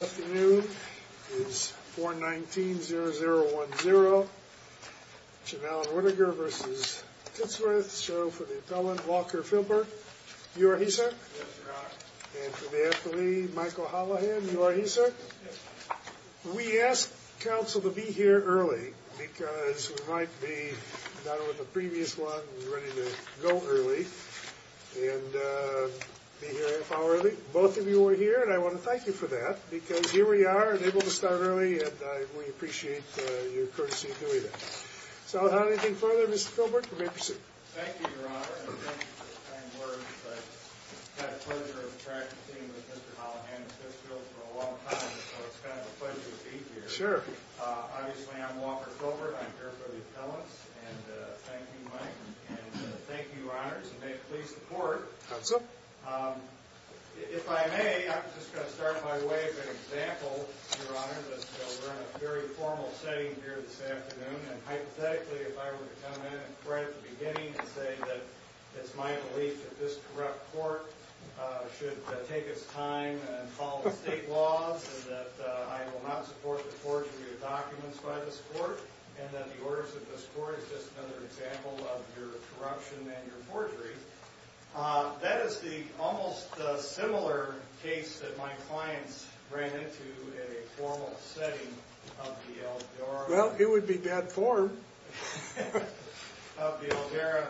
This afternoon is 4-19-0010, Cannell and Whittaker v. Tittsworth. So for the appellant, Walker Philbert, you are here, sir? Yes, sir, I am. And for the affilee, Michael Holohan, you are here, sir? Yes, sir. We ask counsel to be here early because we might be, not with the previous one, ready to go early. And be here a half hour early. Both of you are here and I want to thank you for that. Because here we are and able to start early and we appreciate your courtesy in doing that. So without anything further, Mr. Philbert, you may proceed. Thank you, Your Honor. And thank you for the kind words. I've had the pleasure of practicing with Mr. Holohan and Fitzgerald for a long time. So it's kind of a pleasure to be here. Sure. Obviously, I'm Walker Philbert. I'm here for the appellants. And thank you, Mike. And thank you, Your Honors. And may it please the Court. Counsel. If I may, I'm just going to start my way with an example, Your Honor, that we're in a very formal setting here this afternoon. And hypothetically, if I were to come in right at the beginning and say that it's my belief that this corrupt court should take its time and follow state laws, and that I will not support the forging of your documents by this court, and that the orders of this court is just another example of your corruption and your forgery. That is the almost similar case that my clients ran into in a formal setting of the Eldora. Well, it would be bad form. Of the Eldora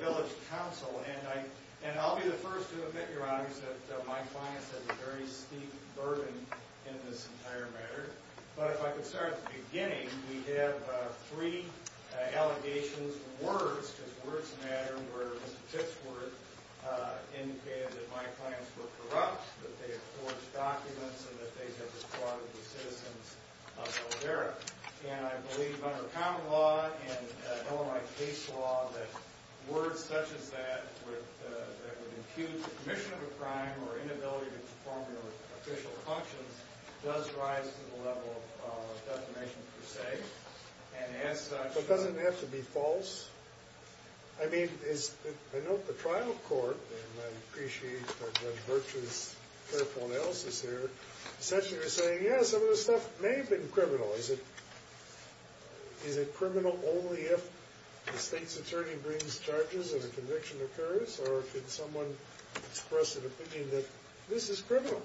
Village Council. And I'll be the first to admit, Your Honors, that my clients have a very steep burden in this entire matter. But if I could start at the beginning, we have three allegations, words, words matter, where Mr. Tipsworth indicated that my clients were corrupt, that they had forged documents, and that they had been part of the citizens of Eldora. And I believe under common law and Illinois case law, that words such as that that would impute the commission of a crime or inability to perform their official functions does rise to the level of defamation per se. And as such... It doesn't have to be false. I mean, I know the trial court, and I appreciate Judge Virtue's careful analysis here, essentially is saying, yeah, some of this stuff may have been criminal. Is it criminal only if the state's attorney brings charges and a conviction occurs? Or could someone express an opinion that this is criminal?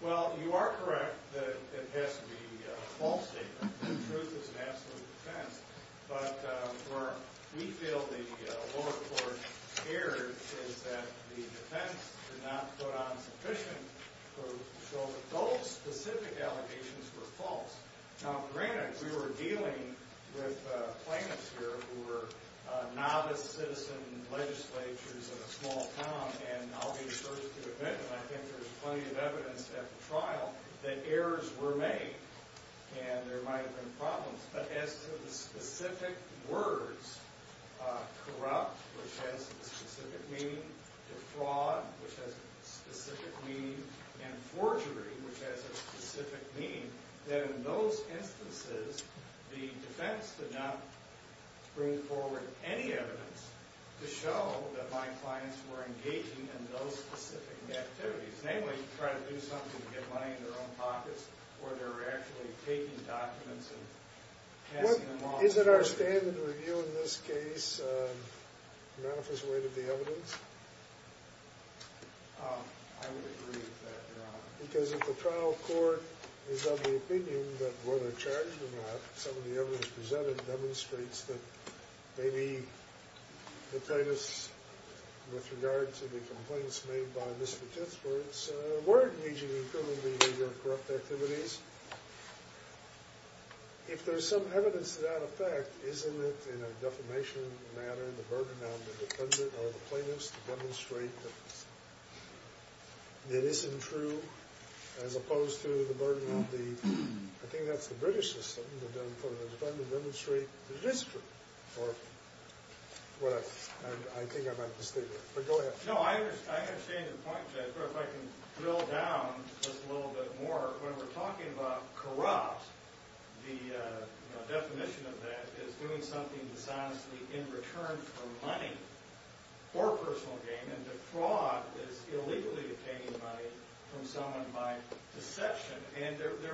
Well, you are correct that it has to be a false statement. The truth is an absolute defense. But where we feel the lower court erred is that the defense did not put on sufficient proof to show that those specific allegations were false. Now, granted, we were dealing with plaintiffs here who were novice citizen legislatures in a small town, and I'll be the first to admit, and I think there's plenty of evidence at the trial, that errors were made. And there might have been problems. But as to the specific words, corrupt, which has a specific meaning, defraud, which has a specific meaning, and forgery, which has a specific meaning, that in those instances the defense did not bring forward any evidence to show that my clients were engaging in those specific activities. Namely, trying to do something to get money into their own pockets or they were actually taking documents and passing them off. Is it our stand and review in this case to manifest the weight of the evidence? I would agree with that, Your Honor. Because if the trial court is of the opinion that whether they're charged or not, some of the evidence presented demonstrates that maybe the plaintiffs, with regard to the complaints made by Mr. Tisford, were engaging in criminally corrupt activities. If there's some evidence to that effect, isn't it in a defamation manner the burden on the defendant or the plaintiffs to demonstrate that it isn't true, as opposed to the burden on the, I think that's the British system, for the defendant to demonstrate that it is true. I think I might mistake it, but go ahead. No, I understand your point, Judge, but if I can drill down just a little bit more. When we're talking about corrupt, the definition of that is doing something dishonestly in return for money or personal gain. And defraud is illegally obtaining money from someone by deception.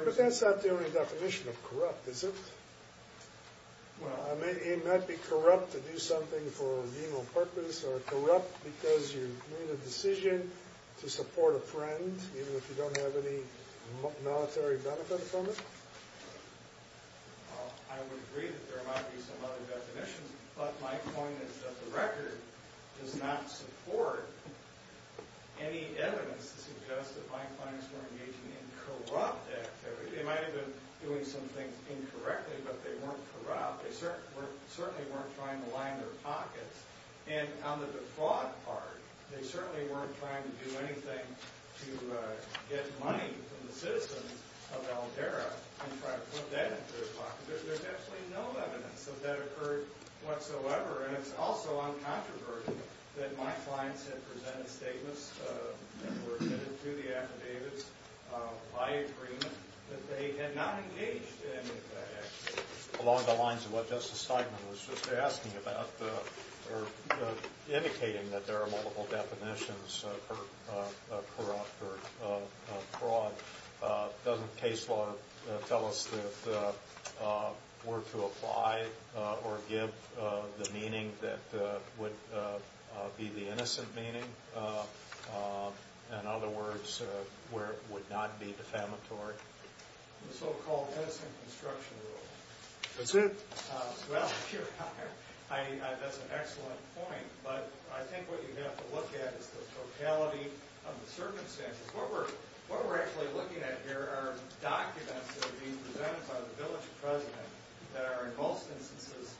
But that's not the only definition of corrupt, is it? Well, it might be corrupt to do something for a legal purpose, or corrupt because you made a decision to support a friend, even if you don't have any military benefit from it. I would agree that there might be some other definitions, but my point is that the record does not support any evidence to suggest that my clients were engaging in corrupt activity. They might have been doing some things incorrectly, but they weren't corrupt. They certainly weren't trying to line their pockets. And on the defraud part, they certainly weren't trying to do anything to get money from the citizens of Aldera and try to put that into their pockets. There's absolutely no evidence that that occurred whatsoever, and it's also uncontroversial that my clients had presented statements that were admitted to the affidavits by agreement that they had not engaged in that activity. Along the lines of what Justice Steinman was just asking about, or indicating that there are multiple definitions of corrupt or fraud, doesn't case law tell us that we're to apply or give the meaning that would be the innocent meaning? In other words, where it would not be defamatory? The so-called innocent construction rule. That's it. Well, that's an excellent point, but I think what you have to look at is the totality of the circumstances. What we're actually looking at here are documents that are being presented by the village president that are in most instances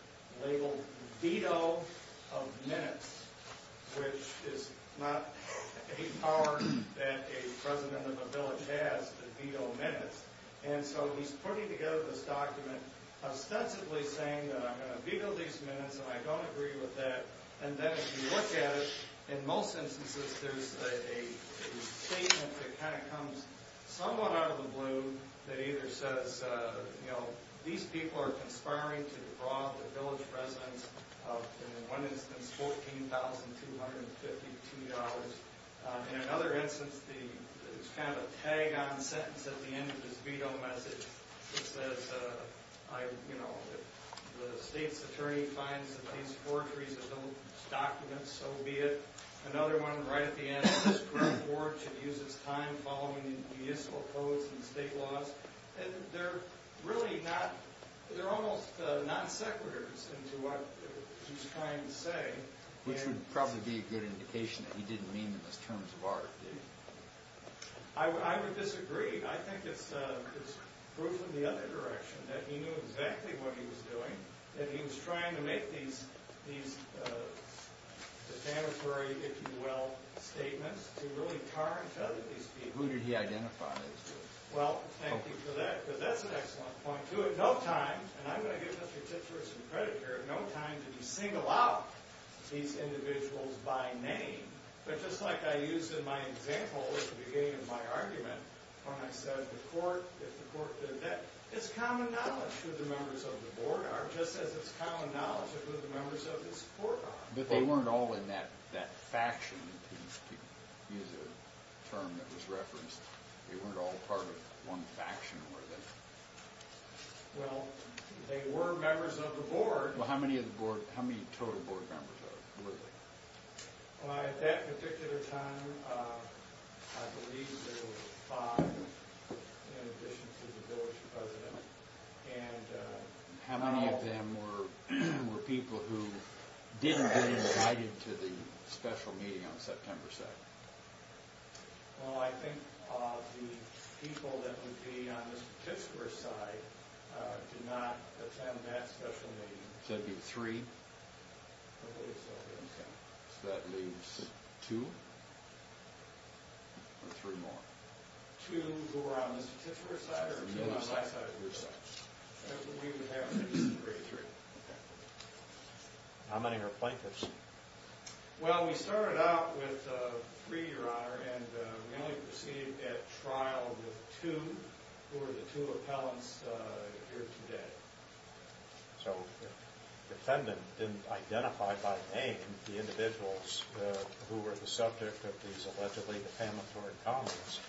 labeled veto of minutes, which is not a power that a president of a village has to veto minutes. And so he's putting together this document ostensibly saying that I'm going to veto these minutes and I don't agree with that. And then if you look at it, in most instances there's a statement that kind of comes somewhat out of the blue that either says, you know, these people are conspiring to defraud the village presidents of, in one instance, $14,252. In another instance, there's kind of a tag-on sentence at the end of this veto message that says, you know, the state's attorney finds that these forgeries are those documents, so be it. Another one right at the end, this court should use its time following municipal codes and state laws. They're really not, they're almost non sequiturs into what he's trying to say. Which would probably be a good indication that he didn't mean them as terms of art, did he? I would disagree. I think it's proof in the other direction that he knew exactly what he was doing, that he was trying to make these defamatory, if you will, statements to really tar and feather these people. Who did he identify these people? Well, thank you for that, because that's an excellent point, too. At no time, and I'm going to give Mr. Tittsworth some credit here, at no time did he single out these individuals by name. But just like I used in my example at the beginning of my argument, when I said the court, if the court did that, it's common knowledge who the members of the board are, just as it's common knowledge who the members of this court are. But they weren't all in that faction, to use a term that was referenced. They weren't all part of one faction, were they? Well, they were members of the board. Well, how many total board members were they? At that particular time, I believe there were five in addition to the board's president. And how many of them were people who didn't get invited to the special meeting on September 2nd? Well, I think the people that would be on Mr. Tittsworth's side did not attend that special meeting. So it would be three? I believe so. So that leaves two or three more? Two who were on Mr. Tittsworth's side or two on my side or your side? We would have three. Okay. How many are plaintiffs? Well, we started out with three, Your Honor, and we only proceeded at trial with two, who are the two appellants here today. So the defendant didn't identify by name the individuals who were the subject of these allegedly defamatory comments.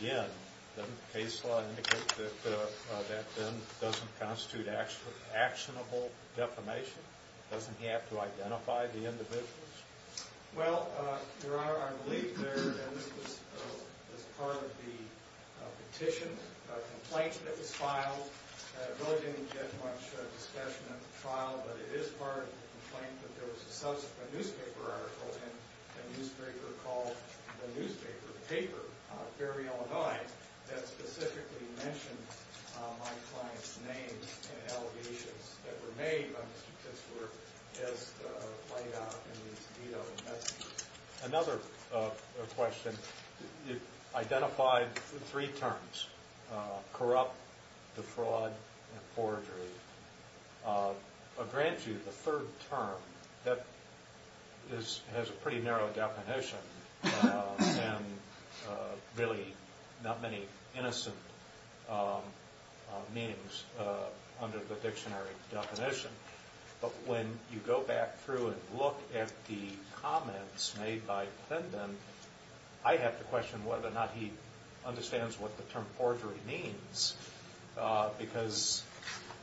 Again, doesn't the case law indicate that that then doesn't constitute actionable defamation? Doesn't he have to identify the individuals? Well, Your Honor, I believe there was part of the petition, a complaint that was filed. I really didn't get much discussion at the trial, but it is part of the complaint that there was a newspaper article in a newspaper called the Newspaper Paper of Ferry, Illinois, that specifically mentioned my client's name and allegations that were made by Mr. Tittsworth as laid out in these vetoed messages. Another question, you identified three terms, corrupt, defraud, and forgery. I'll grant you the third term that has a pretty narrow definition and really not many innocent meanings under the dictionary definition. But when you go back through and look at the comments made by the defendant, I have to question whether or not he understands what the term forgery means. Because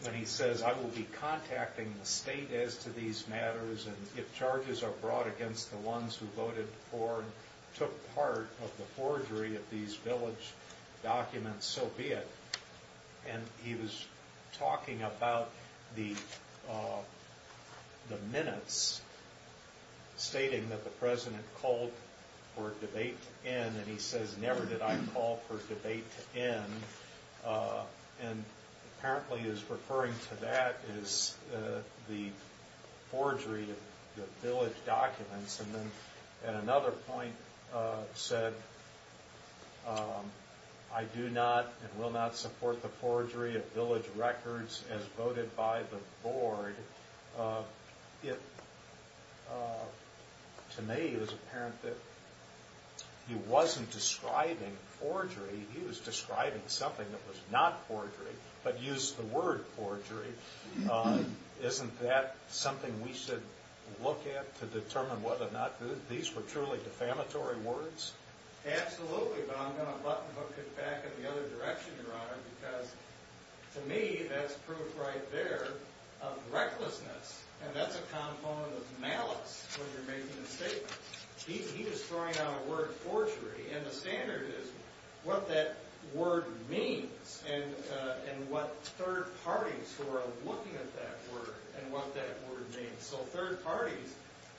when he says, I will be contacting the state as to these matters, and if charges are brought against the ones who voted for and took part of the forgery of these village documents, so be it. And he was talking about the minutes, stating that the President called for a debate to end, and he says, never did I call for debate to end. And apparently he's referring to that as the forgery of the village documents. And then at another point said, I do not and will not support the forgery of village records as voted by the board. It, to me, is apparent that he wasn't describing forgery. He was describing something that was not forgery, but used the word forgery. Isn't that something we should look at to determine whether or not these were truly defamatory words? Absolutely, but I'm going to button hook it back in the other direction, Your Honor, because to me, that's proof right there of recklessness. And that's a component of malice when you're making a statement. He is throwing out a word forgery, and the standard is what that word means and what third parties who are looking at that word and what that word means. So third parties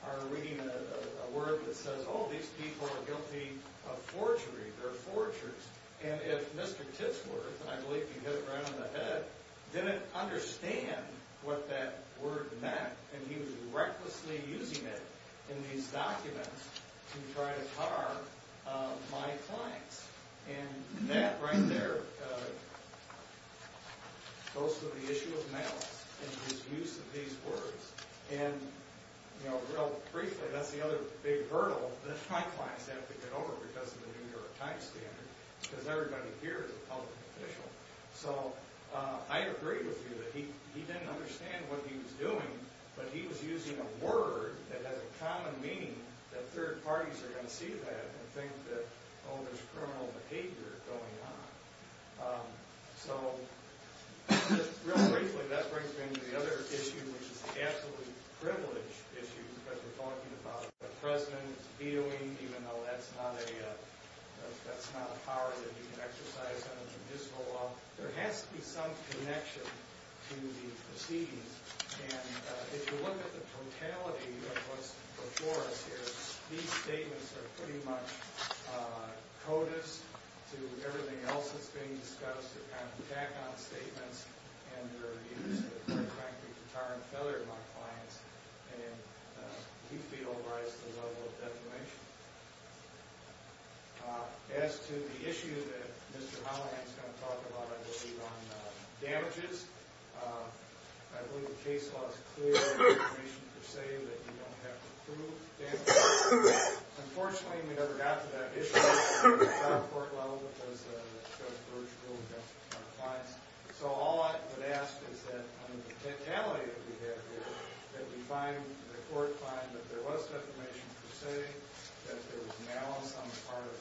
are reading a word that says, oh, these people are guilty of forgery, they're forgers. And if Mr. Titsworth, and I believe he hit it right on the head, didn't understand what that word meant, and he was recklessly using it in these documents to try to harm my clients. And that right there goes to the issue of malice in his use of these words. And, you know, real briefly, that's the other big hurdle that my clients have to get over because of the New York Times standard, because everybody here is a public official. So I agree with you that he didn't understand what he was doing, but he was using a word that has a common meaning that third parties are going to see that and think that, oh, there's criminal behavior going on. So real briefly, that brings me to the other issue, which is the absolute privilege issue, because we're talking about a president vetoing, even though that's not a power that you can exercise under the municipal law. There has to be some connection to these proceedings. And if you look at the totality of what's before us here, these statements are pretty much codas to everything else that's being discussed. They're kind of tack-on statements, and they're used to, quite frankly, deter and feather my clients, and we feel rise to the level of defamation. As to the issue that Mr. Holligan is going to talk about, I believe, on damages, I believe the case law is clear on defamation per se, that you don't have to prove damages. Unfortunately, we never got to that issue on a court level, because Judge Burge ruled against our clients. So all I would ask is that, under the totality of behavior, that the court find that there was defamation per se, that there was malice on the part of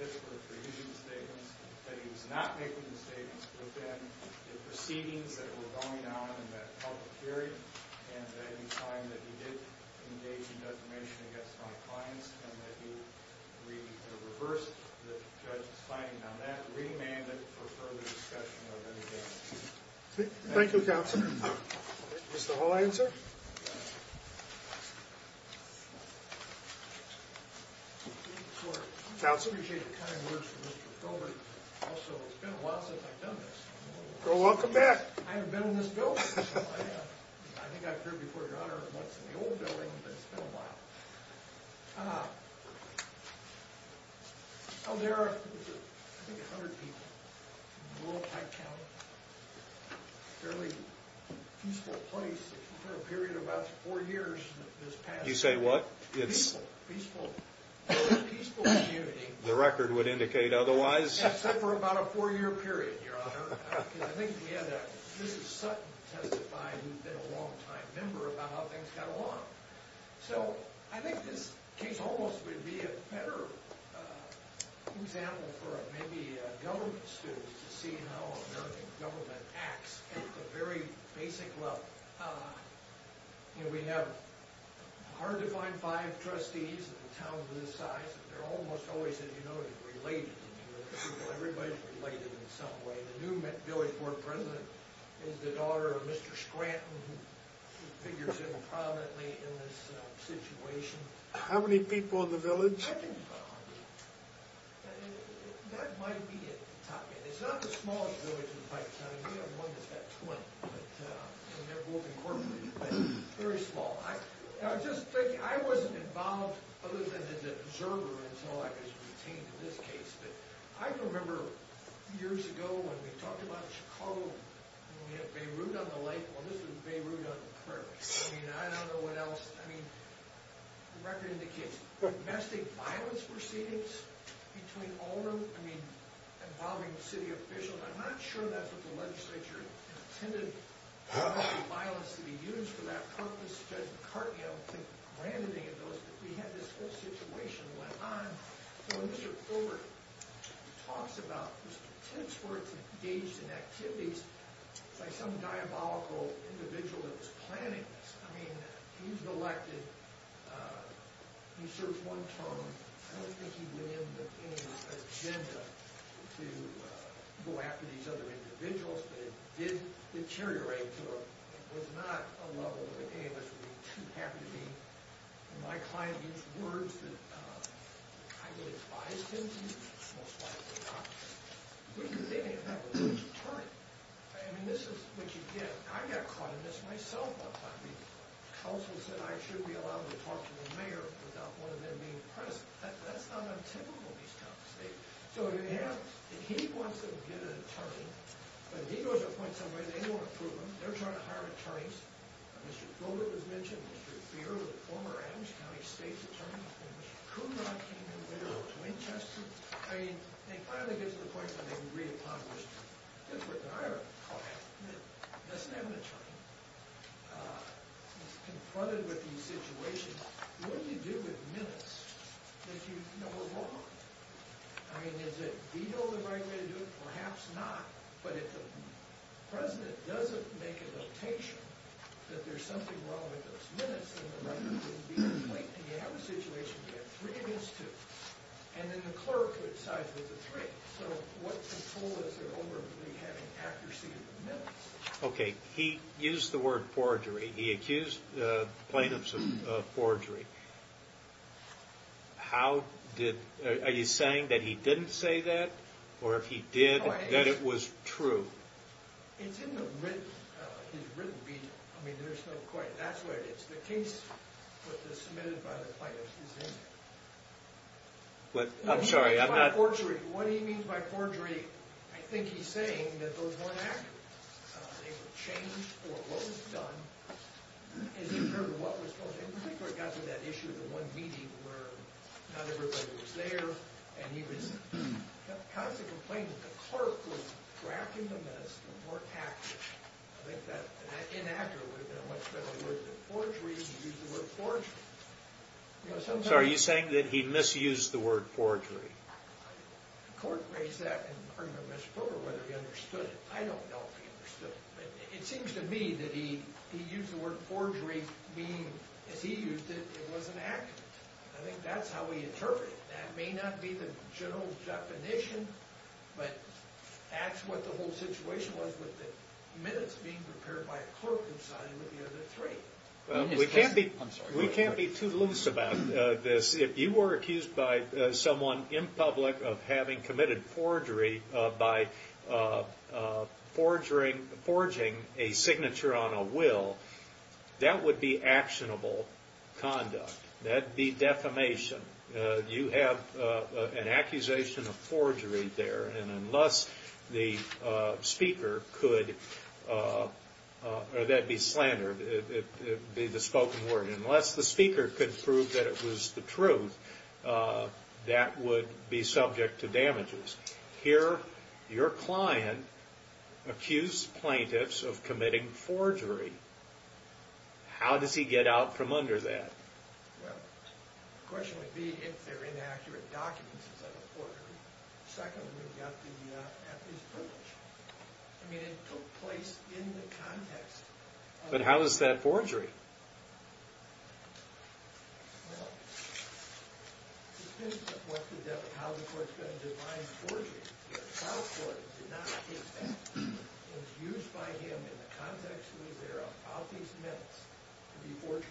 Mr. Pittsburgh for using the statements, that he was not making the statements within the proceedings that were going on in that public hearing, and that he find that he did engage in defamation against my clients, and that he reversed the judge's finding on that, and remanded for further discussion of any damages. Thank you, Counselor. Mr. Holligan, sir? Thank you. Counselor, I appreciate the kind words from Mr. Gilbert. Also, it's been a while since I've done this. Well, welcome back. I haven't been in this building. I think I've been here before, Your Honor, once in the old building, but it's been a while. Oh, there are, I think, 100 people in rural Pike County. Fairly peaceful place for a period of about four years this past year. You say what? Peaceful. Peaceful. Very peaceful community. The record would indicate otherwise. Except for about a four-year period, Your Honor. I think we had Mrs. Sutton testify, who's been a long-time member, about how things got along. So, I think this case almost would be a better example for maybe government students to see how American government acts at the very basic level. You know, we have hard-to-find five trustees in a town this size. They're almost always, as you know, related. Everybody's related in some way. The new Village Board President is the daughter of Mr. Scranton, who figures in prominently in this situation. How many people in the village? I think about 100. That might be it. It's not the smallest village in Pike County. We have one that's got 20, and they're both incorporated, but very small. I just think I wasn't involved, other than as an observer, until I was retained in this case. But I remember years ago when we talked about Chicago, and we had Beirut on the lake. Well, this was Beirut on the prairie. I mean, I don't know what else. I mean, the record indicates domestic violence proceedings between all of them, I mean, involving city officials. I'm not sure that the legislature intended domestic violence to be used for that purpose. Judge McCartney, I don't think, granted any of those. But we had this whole situation that went on. So Mr. Overton talks about his contempt for it to engage in activities by some diabolical individual that was planning this. I mean, he's elected. He served one term. I don't think he went into any agenda to go after these other individuals, but it did deteriorate to a—it was not a level that any of us would be too happy to be. My client used words that I would advise him to use, most likely not. They didn't have a legal attorney. I mean, this is what you get. I got caught in this myself one time. The counsel said I should be allowed to talk to the mayor without one of them being present. That's not untypical in these kinds of states. So if you have—if he wants to get an attorney, but he goes to appoint somebody, they won't approve him. They're trying to hire attorneys. Mr. Golder was mentioned, Mr. Beard was a former Adams County state attorney, and Mr. Kuhnert came in later to Winchester. I mean, they finally get to the point where they can read upon this. That's what I would call it. It doesn't have an attorney. Confronted with these situations, what do you do with minutes that you know are wrong? I mean, is it veto the right way to do it? Perhaps not. But if the president doesn't make a notation that there's something wrong with those minutes, then the record wouldn't be complete. And you have a situation where you have three minutes to—and then the clerk decides with the three. So what control is there over me having accuracy of the minutes? Okay. He used the word forgery. He accused plaintiffs of forgery. How did—are you saying that he didn't say that? Or if he did, that it was true? I'm sorry, I'm not— where not everybody was there, and he was constantly complaining. The clerk was drafting the minutes, and the clerk acted. I think that inaccurate would have been a much better word than forgery. He used the word forgery. You know, sometimes— So are you saying that he misused the word forgery? The court raised that in the argument with Mr. Porter, whether he understood it. I don't know if he understood it. It seems to me that he used the word forgery, meaning, as he used it, it was inaccurate. I think that's how he interpreted it. That may not be the general definition, but that's what the whole situation was with the minutes being prepared by a clerk who signed with the other three. We can't be— I'm sorry. We can't be too loose about this. If you were accused by someone in public of having committed forgery by forging a signature on a will, that would be actionable conduct. That would be defamation. You have an accusation of forgery there, and unless the speaker could— that would be subject to damages. Here, your client accused plaintiffs of committing forgery. How does he get out from under that? Well, the question would be if they're inaccurate documents, is that a forgery. Secondly, we've got the athlete's privilege. I mean, it took place in the context of— But how is that forgery? Well, it depends on what the devil—how the court's going to define forgery. The trial court did not use that. It was used by him in the context that was there about these minutes to be forged.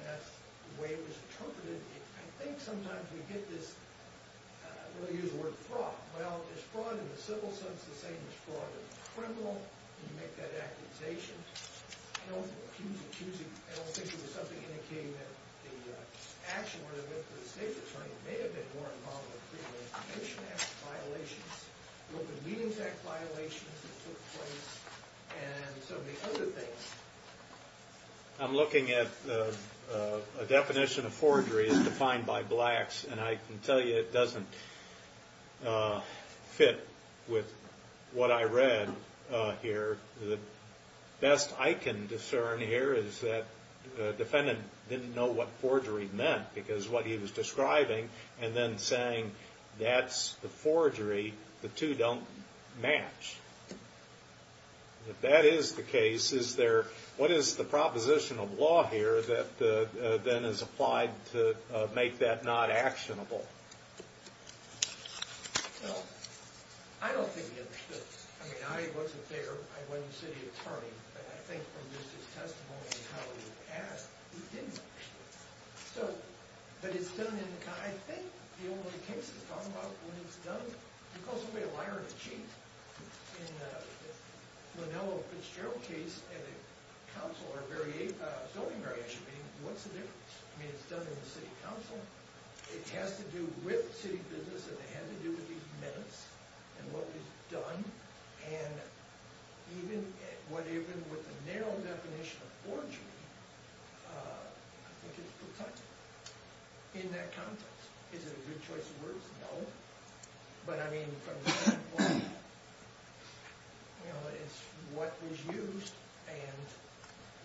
And that's the way it was interpreted. I think sometimes we get this—we'll use the word fraud. Well, is fraud in the civil sense the same as fraud in the criminal? You make that accusation. I don't think it was something indicating that the action where they went to the state attorney may have been more involved in the Criminal Information Act violations, the Open Meetings Act violations that took place, and some of the other things. I'm looking at a definition of forgery as defined by blacks, and I can tell you it doesn't fit with what I read here. The best I can discern here is that the defendant didn't know what forgery meant because what he was describing and then saying, that's the forgery, the two don't match. If that is the case, is there—what is the proposition of law here that then is applied to make that not actionable? Well, I don't think he understood. I mean, I wasn't there. I wasn't the city attorney. But I think from just his testimony and how he was asked, he didn't know. So, but it's done in the—I think the only way it takes to talk about it when it's done— you can call somebody a liar and a cheat. In the Lanello Fitzgerald case and the council are very— the zoning variation, I mean, what's the difference? I mean, it's done in the city council. It has to do with city business. It had to do with these minutes and what was done. And even with the narrow definition of forgery, I think it's protected in that context. Is it a good choice of words? No. But I mean, from that point, you know, it's what was used. And,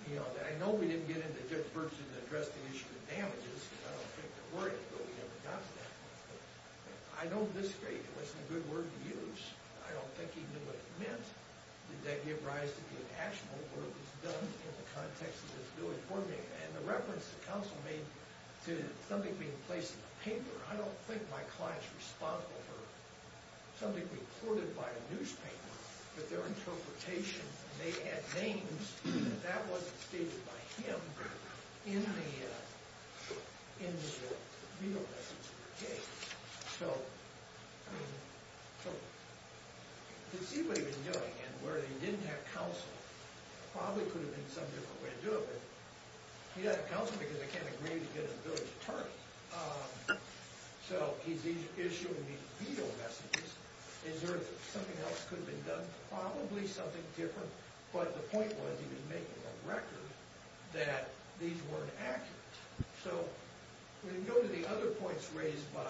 you know, I know we didn't get into Dick Ferguson to address the issue of damages because I don't think there were any, but we never got to that point. But I know at this stage it wasn't a good word to use. I don't think he knew what it meant. Did that give rise to the actual work that's done in the context of this new information? And the reference the council made to something being placed in the paper, I don't think my client's responsible for something reported by a newspaper, but their interpretation, they had names, and that wasn't stated by him in the veto message of the case. So to see what he was doing and where he didn't have counsel probably could have been some different way to do it. But he had counsel because they can't agree to get a village attorney. So he's issuing these veto messages. Is there something else could have been done? Probably something different. But the point was he was making a record that these weren't accurate. So when you go to the other points raised by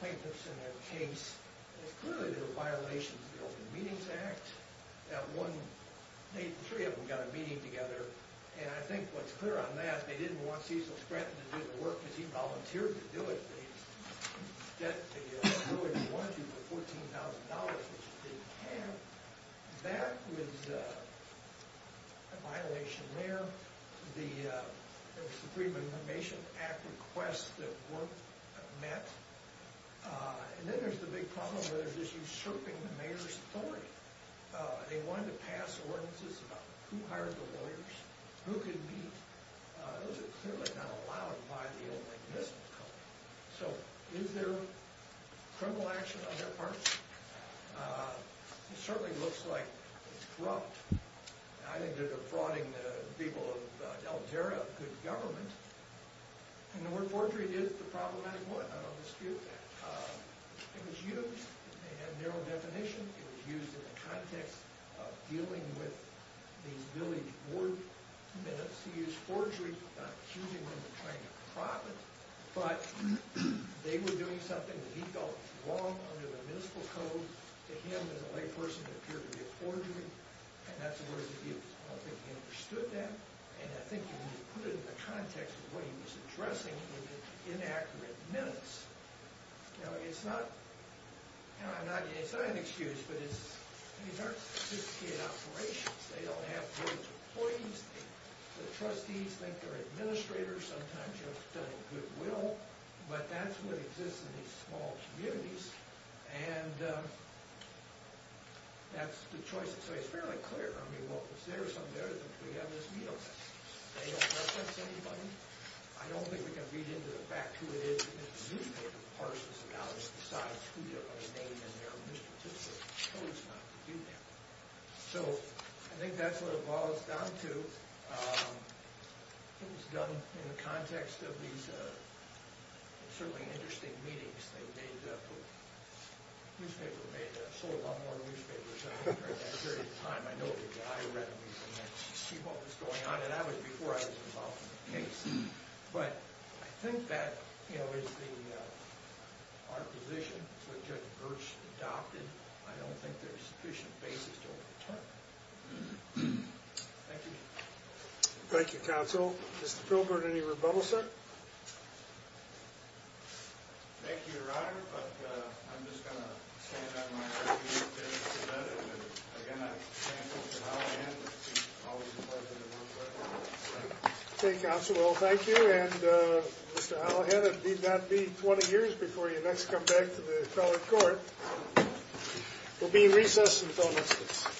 plaintiffs in their case, clearly there were violations of the Open Meetings Act. That one, the three of them got a meeting together, and I think what's clear on that, they didn't want Cecil Stratton to do the work because he volunteered to do it. He wanted to do it for $14,000, which he didn't have. So that was a violation there. There was the Freedom of Information Act request that weren't met. And then there's the big problem where there's this usurping of the mayor's authority. They wanted to pass ordinances about who hired the lawyers, who could meet. Those are clearly not allowed by the old mechanism. So is there criminal action on their part? It certainly looks like it's corrupt. I think they're defrauding the people of Alteria of good government. And the word forgery is the problematic word. I don't dispute that. It was used. It had a narrow definition. It was used in the context of dealing with these village board minutes. He used forgery, not accusing them of trying to profit, but they were doing something that he felt was wrong under the municipal code to him as a layperson that appeared to be a forgery. And that's the word he used. I don't think he understood that. And I think when you put it in the context of what he was addressing, it was inaccurate minutes. Now, it's not an excuse, but these aren't sophisticated operations. They don't have village employees. The trustees think they're administrators. Sometimes you have to tell them goodwill. But that's what exists in these small communities. And that's the choice. So it's fairly clear. I mean, what was there or something there is what we have in this meeting. They don't reference anybody. I don't think we can read into the fact who it is in this newspaper who parses the dollars and decides who to put their name in there when the statistician chose not to do that. So I think that's what it boils down to. It was done in the context of these certainly interesting meetings. They made the newspaper made a whole lot more newspapers I think during that period of time. I know the guy read them and see what was going on. And that was before I was involved in the case. But I think that is our position. It's what Judge Birch adopted. I don't think there's sufficient basis to overturn it. Thank you. Thank you, Counsel. Mr. Philbert, any rebuttals, sir? Thank you, Your Honor. But I'm just going to stand on my reputation for that. And again, I thank Mr. Hallihan. It's always a pleasure to work with him. Okay, Counsel. Well, thank you. And Mr. Hallihan, it need not be 20 years before you next come back to the federal court. We'll be in recess until next week.